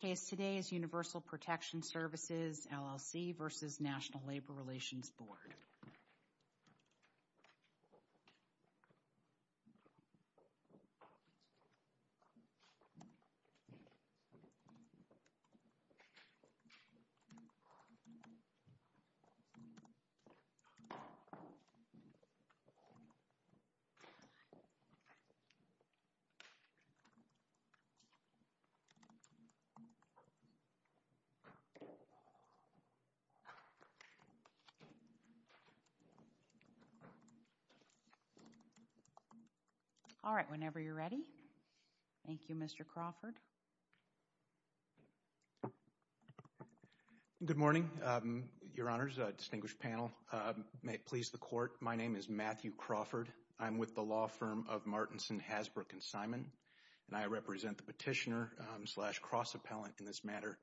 Case today is Universal Protection Services, LLC v. National Labor Relations Board. All right, whenever you're ready. Thank you, Mr. Crawford. Good morning, Your Honors, distinguished panel. May it please the Court, my name is Matthew Crawford. I'm with the law firm of Martinson, Hasbrook & Simon, and I represent the Petitioner v. National Labor Relations Board, Petitioner-Cross Appellant in this matter.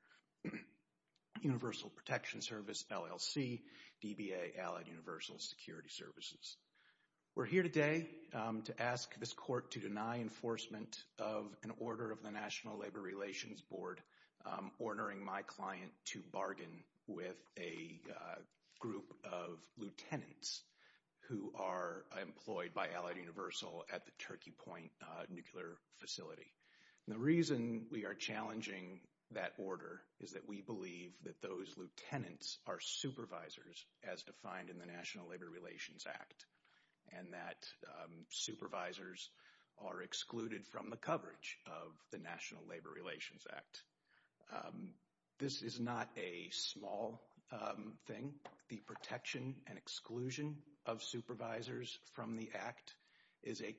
Universal Protection Service, LLC DBA, Allied Universal Security Services. We're here today to ask this Court to deny enforcement of an order of the National Labor Relations Board ordering my client to bargain with a group of lieutenants who are employed by Allied Universal at the Turkey Point Nuclear Facility. The reason we are challenging that order is that we believe that those lieutenants are supervisors as defined in the National Labor Relations Act and that supervisors are excluded from the coverage of the National Labor Relations Act. This is not a small thing. The protection and exclusion of supervisors from the Act is a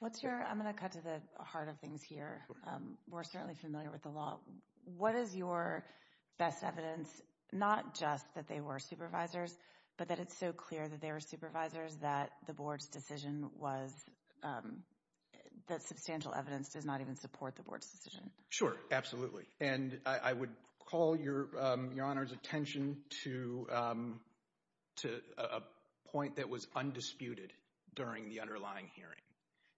What's your, I'm going to cut to the heart of things here. We're certainly familiar with the law. What is your best evidence, not just that they were supervisors, but that it's so clear that they were supervisors that the Board's decision was, that substantial evidence does not even support the Board's decision? Sure, absolutely. And I would call your Honor's attention to a point that was undisputed during the underlying hearing.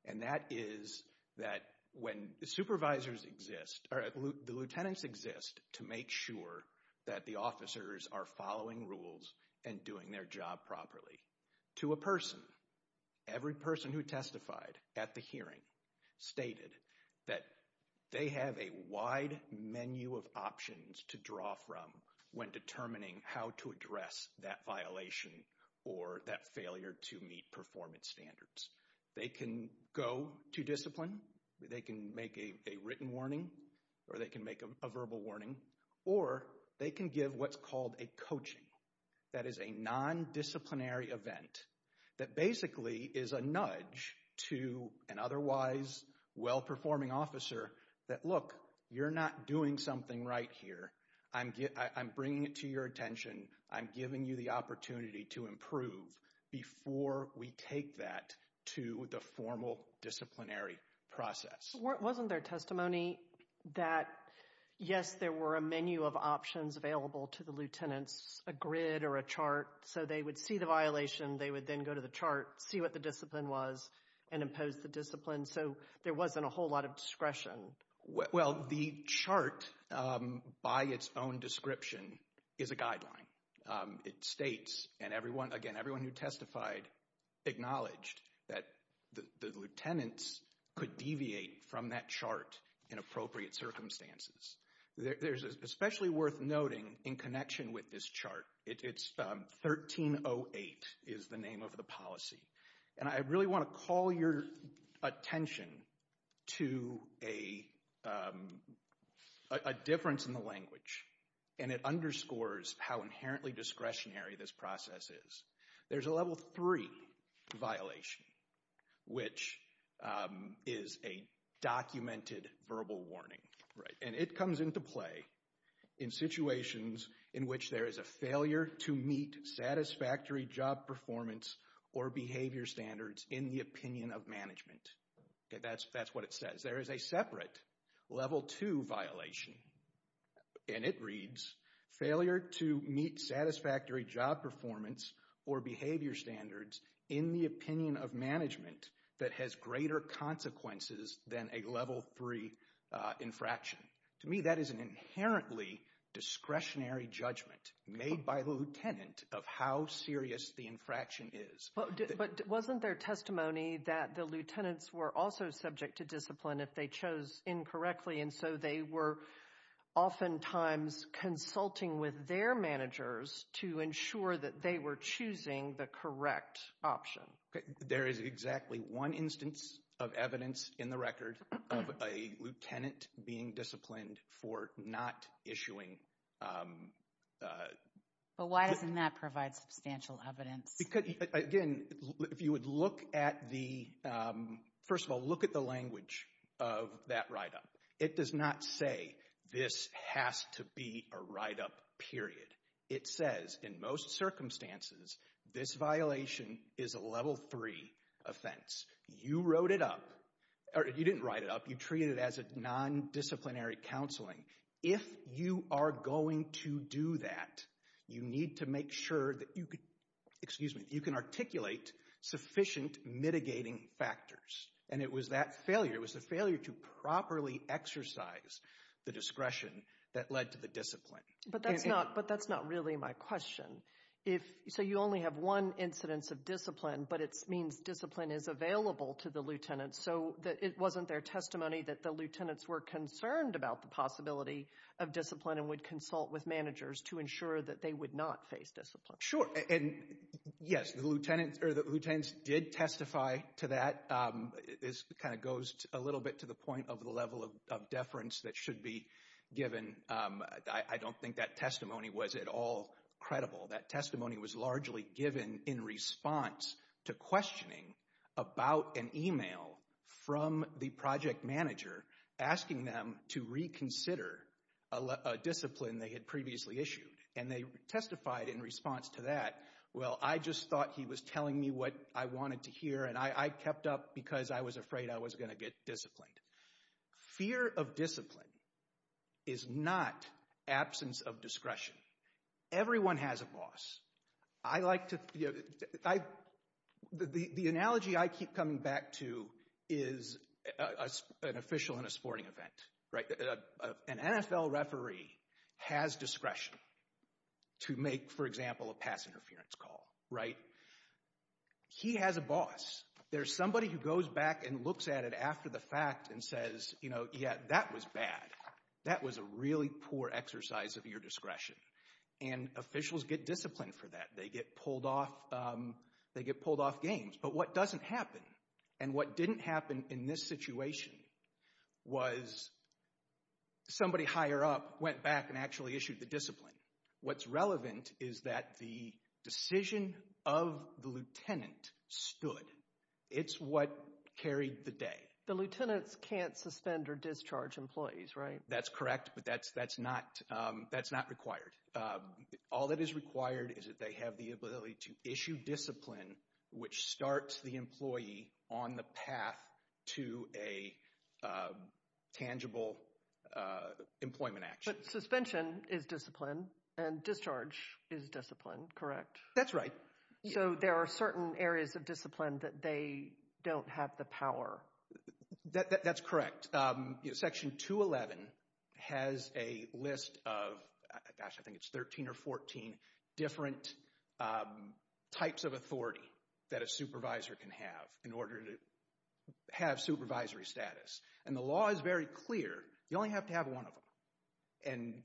And that is that when the supervisors exist, or the lieutenants exist to make sure that the officers are following rules and doing their job properly. To a person, every person who testified at the hearing stated that they have a wide menu of options to draw from when determining how to address that violation or that failure to meet performance standards. They can go to discipline, they can make a written warning, or they can make a verbal warning, or they can give what's called a coaching. That is a non-disciplinary event that basically is a nudge to an otherwise well-performing officer that, look, you're not doing something right here. I'm bringing it to your attention. I'm giving you the opportunity to improve before we take that to the formal disciplinary process. Wasn't there testimony that, yes, there were a menu of options available to the lieutenants, a grid or a chart, so they would see the violation, they would then go to the chart, see what the discipline was, and impose the discipline, so there wasn't a whole lot of discretion? Well, the chart, by its own description, is a guideline. It states, and again, everyone who testified acknowledged that the lieutenants could deviate from that chart in appropriate circumstances. There's especially worth noting in connection with this chart, it's 1308 is the name of the policy, and I really want to call your attention to a difference in the language, and it underscores how inherently discretionary this process is. There's a level three violation, which is a documented verbal warning, and it comes into play in situations in which there is a failure to meet satisfactory job performance or behavior standards in the opinion of management. That's what it says. There is a separate level two violation, and it reads, failure to meet satisfactory job performance or behavior standards in the opinion of management that has greater consequences than a level three infraction. To me, that is an inherently discretionary judgment made by the lieutenant of how serious the infraction is. But wasn't there testimony that the lieutenants were also subject to discipline if they chose incorrectly, and so they were oftentimes consulting with their managers to ensure that they were choosing the correct option? There is exactly one instance of evidence in the record of a lieutenant being disciplined for not issuing... But why doesn't that provide substantial evidence? Because, again, if you would look at the, first of all, look at the language of that write-up. It does not say this has to be a write-up, period. It says, in most circumstances, this violation is a level three offense. You wrote it up, or you didn't write it up, you treated it as a non-disciplinary counseling. If you are going to do that, you need to make sure that you can articulate sufficient mitigating factors. And it was that failure, it was the failure to properly exercise the discretion that led to the discipline. But that's not really my question. So you only have one incidence of discipline, but it means discipline is available to the lieutenants. So it wasn't their testimony that the lieutenants were concerned about the possibility of discipline and would consult with managers to ensure that they would not face discipline? Sure, and yes, the lieutenants did testify to that. This kind of goes a little bit to the point of the level of deference that should be given. I don't think that testimony was at all credible. That testimony was largely given in response to questioning about an email from the project manager asking them to reconsider a discipline they had previously issued. And they testified in response to that, well, I just thought he was telling me what I wanted to hear, and I kept up because I was afraid I was going to get disciplined. Fear of discipline is not absence of discretion. Everyone has a boss. The analogy I keep coming back to is an official in a sporting event. An NFL referee has discretion to make, for example, a pass interference call. He has a boss. There's somebody who goes back and looks at it after the fact and says, you know, yeah, that was bad. That was a really poor exercise of your discretion. And officials get disciplined for that. They get pulled off games. But what doesn't happen and what didn't happen in this situation was somebody higher up went back and actually issued the discipline. What's relevant is that the decision of the lieutenant stood. It's what carried the day. The lieutenants can't suspend or discharge employees, right? That's correct, but that's not required. All that is required is that they have the ability to issue discipline, which starts the employee on the path to a tangible employment action. But suspension is discipline and discharge is discipline, correct? That's right. So there are certain areas of discipline that they don't have the power. That's correct. Section 211 has a list of, gosh, I think it's 13 or 14 different types of authority that a supervisor can have in order to have supervisory status. And the law is very clear. You only have to have one of them. And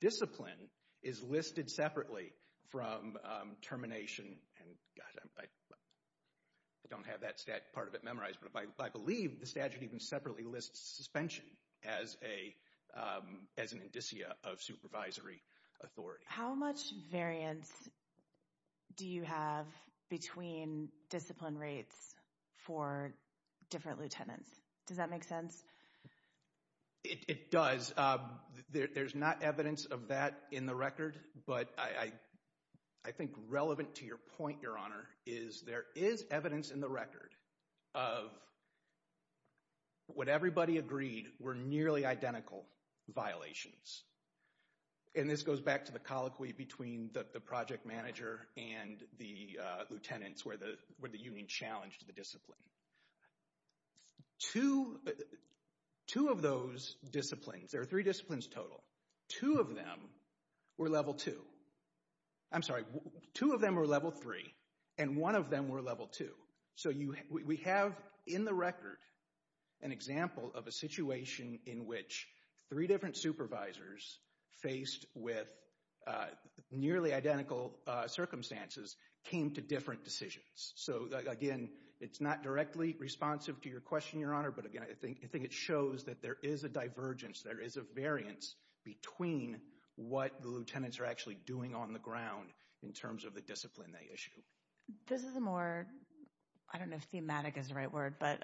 discipline is listed separately from termination. And gosh, I don't have that part of it memorized, but I believe the statute even separately lists suspension as an indicia of supervisory authority. How much variance do you have between discipline rates for different lieutenants? Does that make sense? It does. There's not evidence of that in the record. But I think relevant to your point, Your Honor, is there is evidence in the record of what everybody agreed were nearly identical violations. And this goes back to the colloquy between the project manager and the lieutenants where the union challenged the discipline. Two of those disciplines, there are three disciplines total, two of them were level two. I'm sorry, two of them were level three and one of them were level two. So we have in the record an example of a situation in which three different supervisors faced with nearly identical circumstances came to different decisions. So again, it's not directly responsive to your question, Your Honor. But again, I think it shows that there is a divergence, there is a variance between what the lieutenants are actually doing on the ground in terms of the discipline they issue. This is a more, I don't know if thematic is the right word, but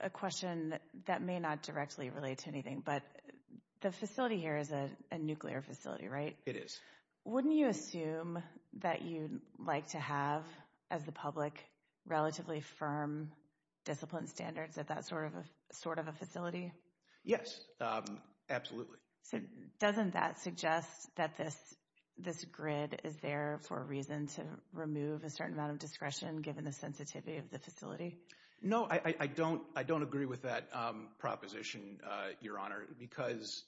a question that may not directly relate to anything. But the facility here is a nuclear facility, right? It is. Wouldn't you assume that you'd like to have, as the public, relatively firm discipline standards at that sort of a facility? Yes, absolutely. So doesn't that suggest that this grid is there for a reason to remove a certain amount of discretion given the sensitivity of the facility? No, I don't agree with that proposition, Your Honor, because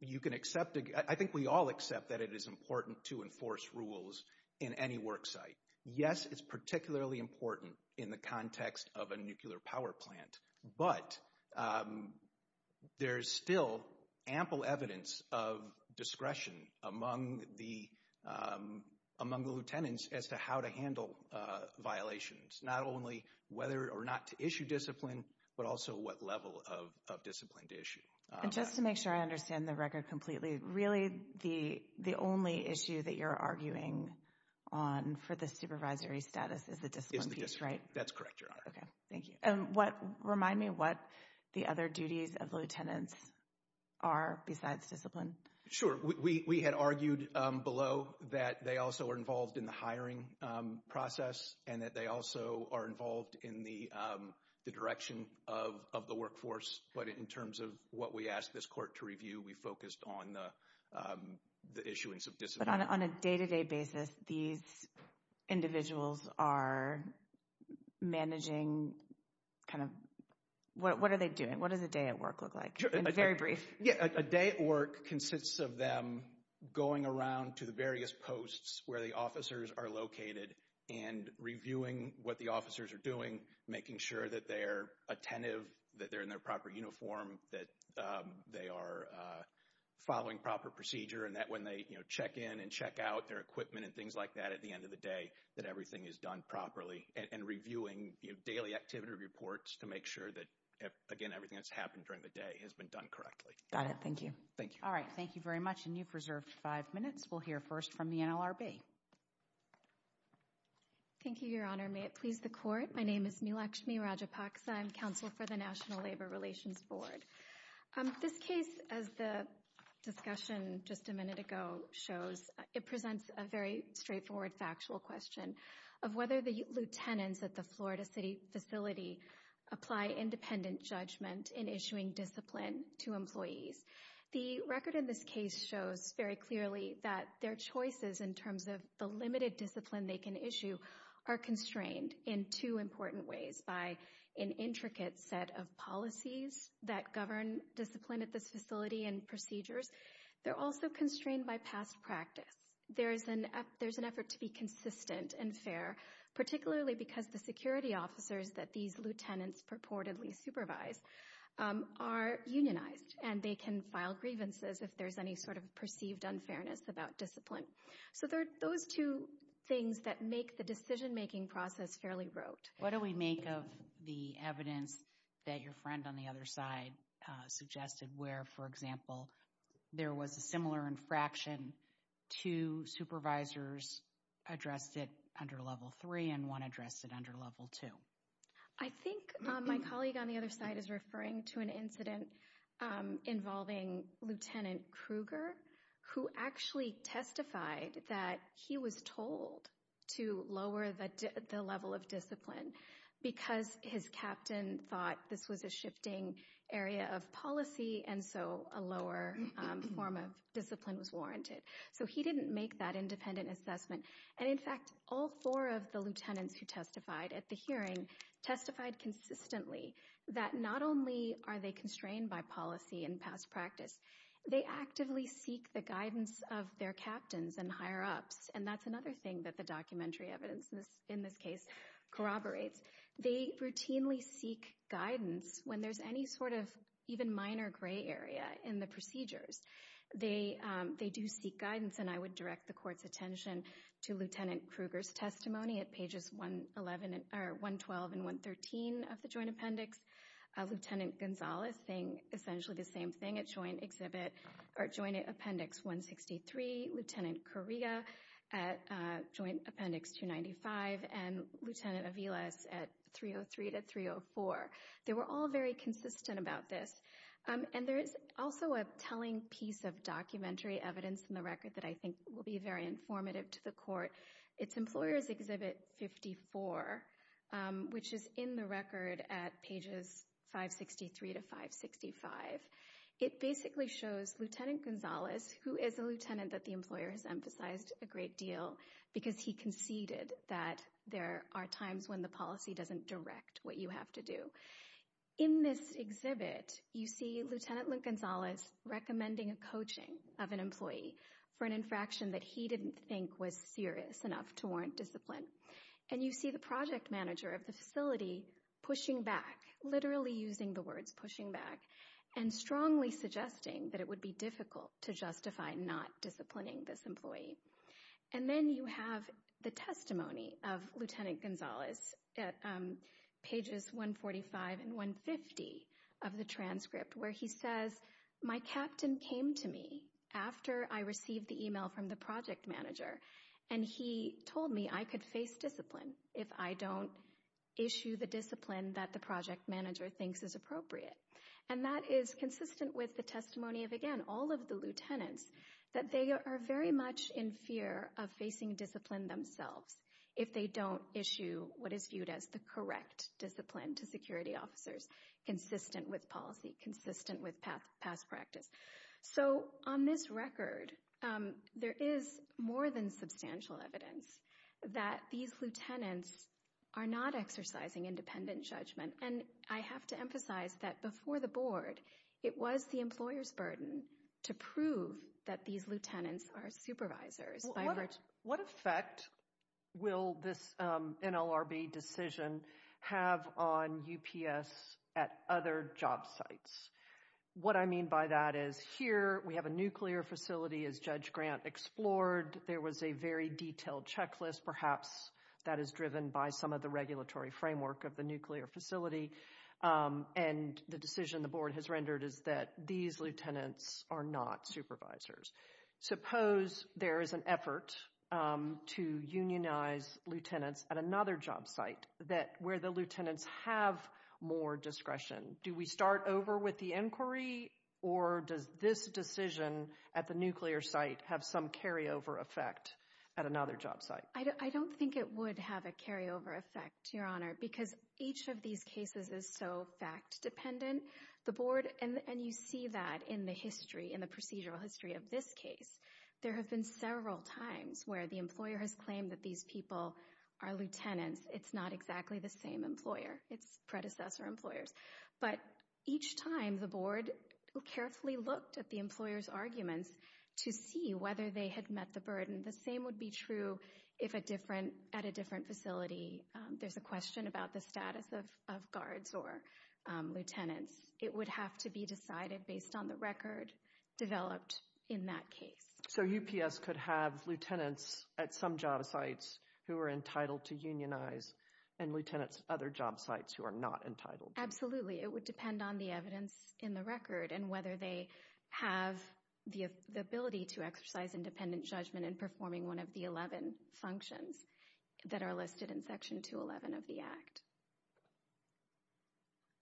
you can accept, I think we all accept that it is important to enforce rules in any worksite. Yes, it's particularly important in the context of a nuclear power plant. But there's still ample evidence of discretion among the lieutenants as to how to handle violations. Not only whether or not to issue discipline, but also what level of discipline to issue. And just to make sure I understand the record completely, really the only issue that you're arguing on for the supervisory status is the discipline piece, right? That's correct, Your Honor. Okay, thank you. And remind me what the other duties of lieutenants are besides discipline. Sure, we had argued below that they also are involved in the hiring process and that they also are involved in the direction of the workforce. But in terms of what we asked this court to review, we focused on the issuance of discipline. But on a day-to-day basis, these individuals are managing kind of, what are they doing? What does a day at work look like? In very brief. Yeah, a day at work consists of them going around to the various posts where the officers are located and reviewing what the officers are doing, making sure that they're attentive, that they're in their proper uniform, that they are following proper procedure, and that when they check in and check out their equipment and things like that at the end of the day, that everything is done properly. And reviewing daily activity reports to make sure that, again, everything that's happened during the day has been done correctly. Got it. Thank you. Thank you. All right, thank you very much. And you've reserved five minutes. We'll hear first from the NLRB. Thank you, Your Honor. May it please the Court. My name is Neelakshmi Rajapaksa. I'm counsel for the National Labor Relations Board. This case, as the discussion just a minute ago shows, it presents a very straightforward factual question of whether the lieutenants at the Florida City facility apply independent judgment in issuing discipline to employees. The record in this case shows very clearly that their choices in terms of the limited discipline they can issue are constrained in two important ways, by an intricate set of policies that govern discipline at this facility and procedures. They're also constrained by past practice. There's an effort to be consistent and fair, particularly because the security officers that these lieutenants purportedly supervise are unionized, and they can file grievances if there's any sort of perceived unfairness about discipline. So there are those two things that make the decision-making process fairly rote. What do we make of the evidence that your friend on the other side suggested where, for example, there was a similar infraction, two supervisors addressed it under Level 3 and one addressed it under Level 2? I think my colleague on the other side is referring to an incident involving Lieutenant Kruger, who actually testified that he was told to lower the level of discipline because his captain thought this was a shifting area of policy, and so a lower form of discipline was warranted. So he didn't make that independent assessment. And in fact, all four of the lieutenants who testified at the hearing testified consistently that not only are they constrained by policy and past practice, they actively seek the guidance of their captains and higher-ups, and that's another thing that the documentary evidence in this case corroborates. They routinely seek guidance when there's any sort of even minor gray area in the procedures. They do seek guidance, and I would direct the Court's attention to Lieutenant Kruger's testimony at pages 112 and 113 of the Joint Appendix. Lieutenant Gonzales saying essentially the same thing at Joint Appendix 163, Lieutenant Correa at Joint Appendix 295, and Lieutenant Aviles at 303 to 304. They were all very consistent about this. And there is also a telling piece of documentary evidence in the record that I think will be very informative to the Court. It's Employer's Exhibit 54, which is in the record at pages 563 to 565. It basically shows Lieutenant Gonzales, who is a lieutenant that the employer has emphasized a great deal because he conceded that there are times when the policy doesn't direct what you have to do. In this exhibit, you see Lieutenant Gonzales recommending a coaching of an employee for an infraction that he didn't think was serious enough to warrant discipline. And you see the project manager of the facility pushing back, literally using the words pushing back, and strongly suggesting that it would be difficult to justify not disciplining this employee. And then you have the testimony of Lieutenant Gonzales at pages 145 and 150 of the transcript, where he says, My captain came to me after I received the email from the project manager, and he told me I could face discipline if I don't issue the discipline that the project manager thinks is appropriate. And that is consistent with the testimony of, again, all of the lieutenants, that they are very much in fear of facing discipline themselves if they don't issue what is viewed as the correct discipline to security officers, consistent with policy, consistent with past practice. So on this record, there is more than substantial evidence that these lieutenants are not exercising independent judgment. And I have to emphasize that before the board, it was the employer's burden to prove that these lieutenants are supervisors. What effect will this NLRB decision have on UPS at other job sites? What I mean by that is, here we have a nuclear facility, as Judge Grant explored, there was a very detailed checklist, perhaps, that is driven by some of the regulatory framework of the nuclear facility. And the decision the board has rendered is that these lieutenants are not supervisors. Suppose there is an effort to unionize lieutenants at another job site where the lieutenants have more discretion. Do we start over with the inquiry, or does this decision at the nuclear site have some carryover effect at another job site? I don't think it would have a carryover effect, Your Honor, because each of these cases is so fact dependent. And you see that in the history, in the procedural history of this case. There have been several times where the employer has claimed that these people are lieutenants. It's not exactly the same employer. It's predecessor employers. But each time, the board carefully looked at the employer's arguments to see whether they had met the burden. The same would be true at a different facility. There's a question about the status of guards or lieutenants. It would have to be decided based on the record developed in that case. So UPS could have lieutenants at some job sites who are entitled to unionize, and lieutenants at other job sites who are not entitled? Absolutely. It would depend on the evidence in the record and whether they have the ability to exercise independent judgment in performing one of the 11 functions that are listed in Section 211 of the Act.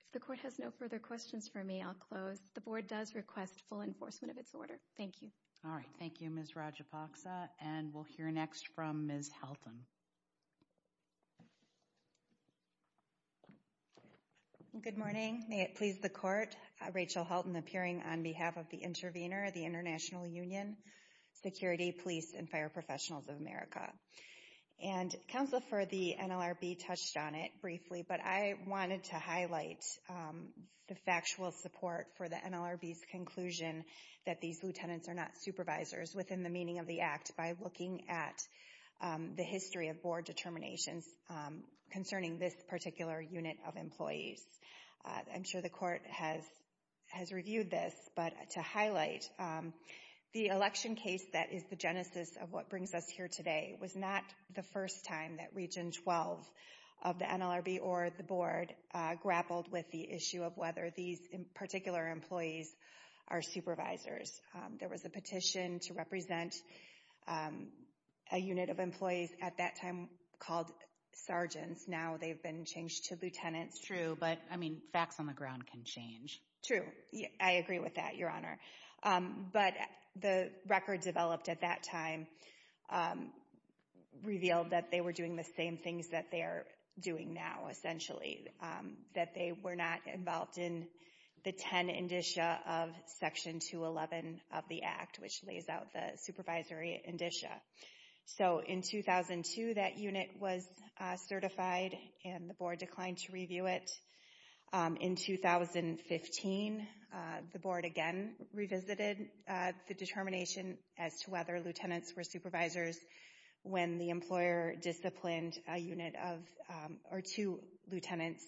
If the court has no further questions for me, I'll close. The board does request full enforcement of its order. Thank you. All right. Thank you, Ms. Rajapaksa. And we'll hear next from Ms. Helton. Good morning. May it please the court, Rachel Helton appearing on behalf of the intervener, the International Union, Security, Police, and Fire Professionals of America. And Counsel for the NLRB touched on it briefly, but I wanted to highlight the factual support for the NLRB's conclusion that these lieutenants are not supervisors within the meaning of the Act by looking at the history of board determinations concerning this particular unit of employees. I'm sure the court has reviewed this, but to highlight the election case that is the genesis of what brings us here today was not the first time that Region 12 of the NLRB or the board grappled with the issue of whether these particular employees are supervisors. There was a petition to represent a unit of employees at that time called sergeants. Now they've been changed to lieutenants. True, but, I mean, facts on the ground can change. True. I agree with that, Your Honor. But the record developed at that time revealed that they were doing the same things that they are doing now, essentially. That they were not involved in the 10 indicia of Section 211 of the Act, which lays out the supervisory indicia. So in 2002, that unit was certified and the board declined to review it. In 2015, the board again revisited the determination as to whether lieutenants were supervisors when the employer disciplined a unit of, or two lieutenants,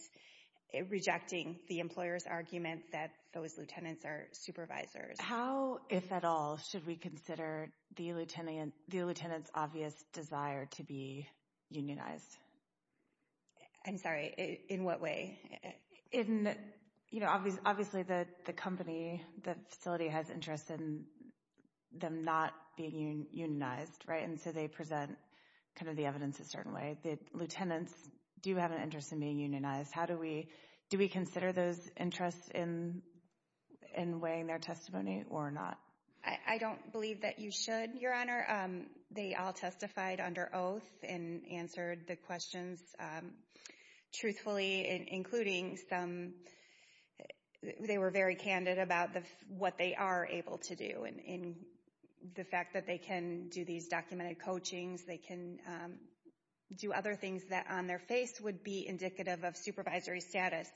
rejecting the employer's argument that those lieutenants are supervisors. How, if at all, should we consider the lieutenant's obvious desire to be unionized? I'm sorry, in what way? In, you know, obviously the company, the facility has interest in them not being unionized, right? And so they present kind of the evidence a certain way. The lieutenants do have an interest in being unionized. How do we, do we consider those interests in weighing their testimony or not? I don't believe that you should, Your Honor. They all testified under oath and answered the questions truthfully, including some, they were very candid about what they are able to do. And the fact that they can do these documented coachings, they can do other things that on their face would be indicative of supervisory status.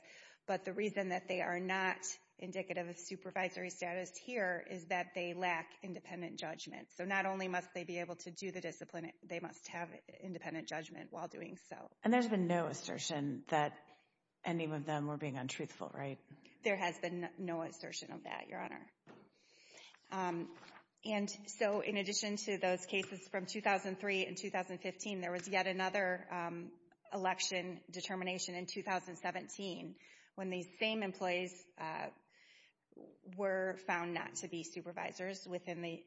But the reason that they are not indicative of supervisory status here is that they lack independent judgment. So not only must they be able to do the discipline, they must have independent judgment while doing so. And there's been no assertion that any of them were being untruthful, right? There has been no assertion of that, Your Honor. And so in addition to those cases from 2003 and 2015, there was yet another election determination in 2017 when these same employees were found not to be supervisors within the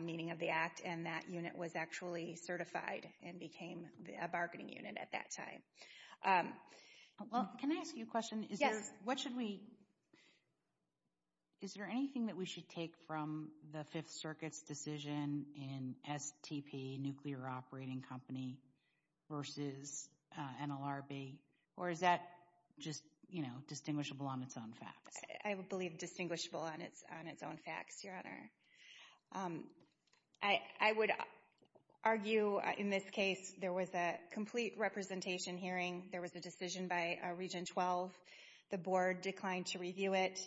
meaning of the act. And that unit was actually certified and became a bargaining unit at that time. Well, can I ask you a question? Is there anything that we should take from the Fifth Circuit's decision in STP, Nuclear Operating Company, versus NLRB? Or is that just, you know, distinguishable on its own facts? I believe distinguishable on its own facts, Your Honor. I would argue in this case there was a complete representation hearing. There was a decision by Region 12. The board declined to review it.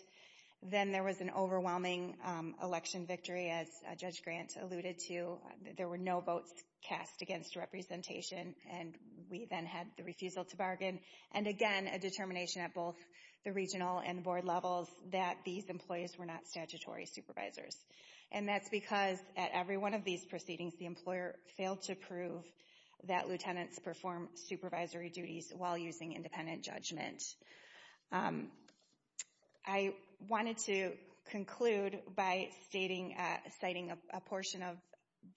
Then there was an overwhelming election victory, as Judge Grant alluded to. There were no votes cast against representation. And we then had the refusal to bargain. And again, a determination at both the regional and the board levels that these employees were not statutory supervisors. And that's because at every one of these proceedings, the employer failed to prove that lieutenants perform supervisory duties while using independent judgment. I wanted to conclude by citing a portion of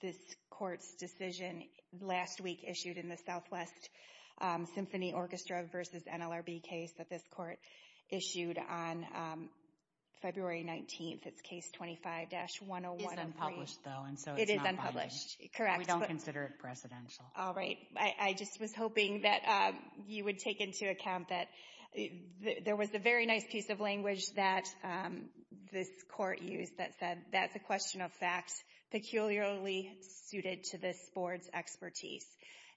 this court's decision last week issued in the Southwest Symphony Orchestra versus NLRB case that this court issued on February 19th. It's Case 25-101. It's unpublished, though. It is unpublished. Correct. We don't consider it presidential. All right. I just was hoping that you would take into account that there was a very nice piece of language that this court used that said, that's a question of facts peculiarly suited to this board's expertise.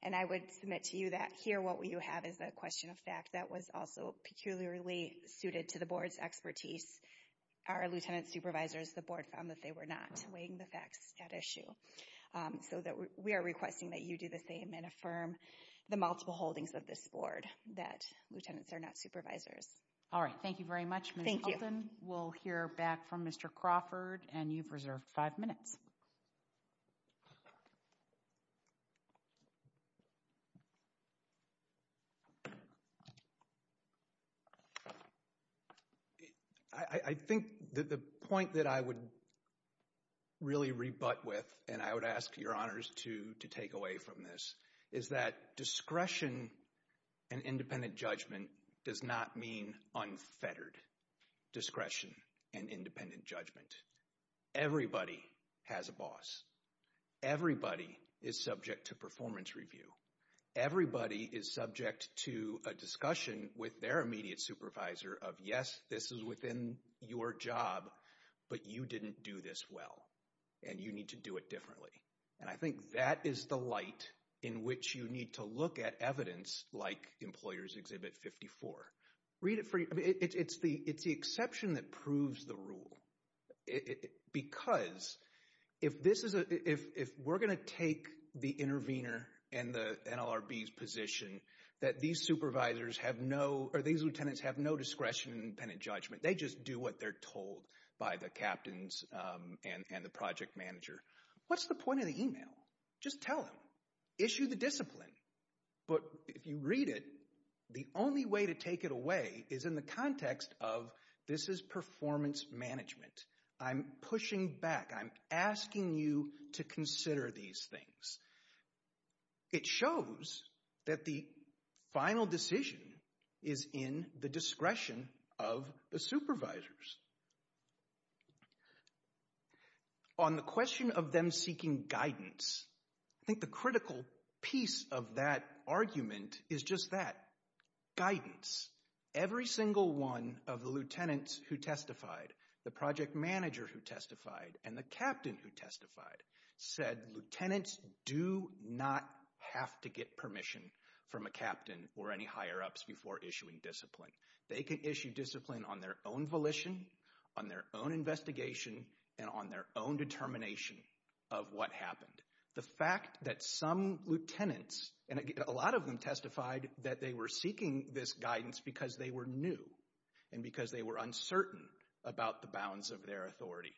And I would submit to you that here what you have is a question of fact that was also peculiarly suited to the board's expertise. Our lieutenant supervisors, the board found that they were not weighing the facts at issue. So we are requesting that you do the same and affirm the multiple holdings of this board, that lieutenants are not supervisors. All right. Thank you very much, Ms. Hilton. Thank you. We'll hear back from Mr. Crawford, and you've reserved five minutes. I think that the point that I would really rebut with, and I would ask your honors to take away from this, is that discretion and independent judgment does not mean unfettered discretion and independent judgment. Everybody has a boss. Everybody is subject to performance review. Everybody is subject to a discussion with their immediate supervisor of, yes, this is within your job, but you didn't do this well, and you need to do it differently. And I think that is the light in which you need to look at evidence like Employers' Exhibit 54. It's the exception that proves the rule. Because if we're going to take the intervener and the NLRB's position that these supervisors have no, or these lieutenants have no discretion and independent judgment, they just do what they're told by the captains and the project manager, what's the point of the email? Just tell them. Issue the discipline. But if you read it, the only way to take it away is in the context of this is performance management. I'm pushing back. I'm asking you to consider these things. It shows that the final decision is in the discretion of the supervisors. On the question of them seeking guidance, I think the critical piece of that argument is just that, guidance. Every single one of the lieutenants who testified, the project manager who testified, and the captain who testified said lieutenants do not have to get permission from a captain or any higher-ups before issuing discipline. They can issue discipline on their own volition, on their own investigation, and on their own determination of what happened. The fact that some lieutenants, and a lot of them testified that they were seeking this guidance because they were new and because they were uncertain about the bounds of their authority,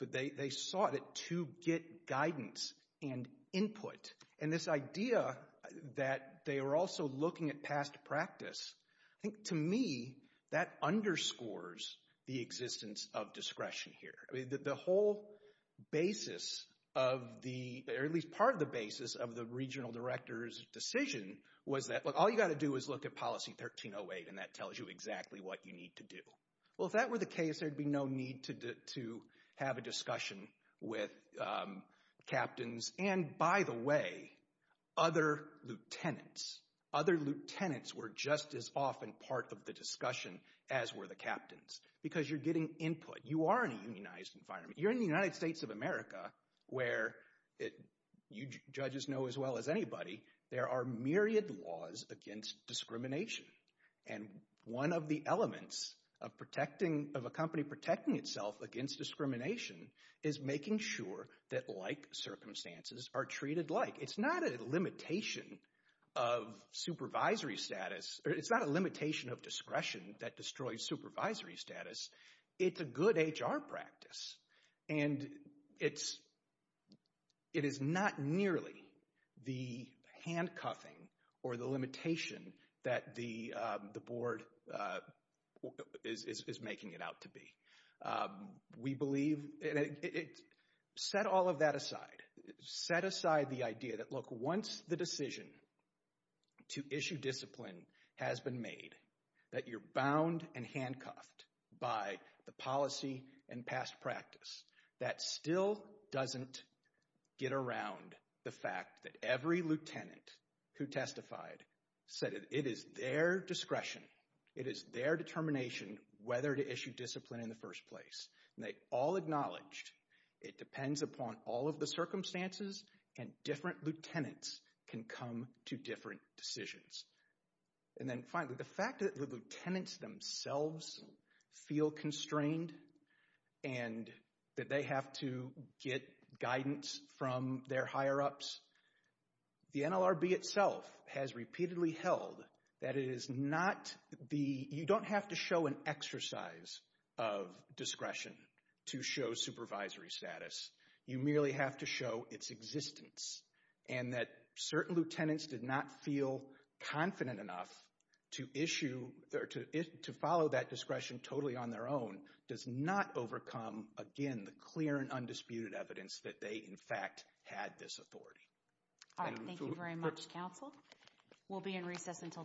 but they sought it to get guidance and input. And this idea that they were also looking at past practice, I think to me that underscores the existence of discretion here. The whole basis of the, or at least part of the basis of the regional director's decision was that, look, all you've got to do is look at policy 1308 and that tells you exactly what you need to do. Well, if that were the case, there would be no need to have a discussion with captains. And, by the way, other lieutenants, other lieutenants were just as often part of the discussion as were the captains because you're getting input. You are in a unionized environment. You're in the United States of America where, you judges know as well as anybody, there are myriad laws against discrimination. And one of the elements of a company protecting itself against discrimination is making sure that like circumstances are treated like. It's not a limitation of supervisory status. It's not a limitation of discretion that destroys supervisory status. It's a good HR practice and it is not nearly the handcuffing or the limitation that the board is making it out to be. We believe, set all of that aside. Set aside the idea that, look, once the decision to issue discipline has been made, that you're bound and handcuffed by the policy and past practice. That still doesn't get around the fact that every lieutenant who testified said it is their discretion. It is their determination whether to issue discipline in the first place. And they all acknowledged it depends upon all of the circumstances and different lieutenants can come to different decisions. And then finally, the fact that the lieutenants themselves feel constrained and that they have to get guidance from their higher ups. The NLRB itself has repeatedly held that it is not the, you don't have to show an exercise of discretion to show supervisory status. You merely have to show its existence and that certain lieutenants did not feel confident enough to issue, to follow that discretion totally on their own does not overcome, again, the clear and undisputed evidence that they, in fact, had this authority. Thank you very much, counsel. We'll be in recess until tomorrow.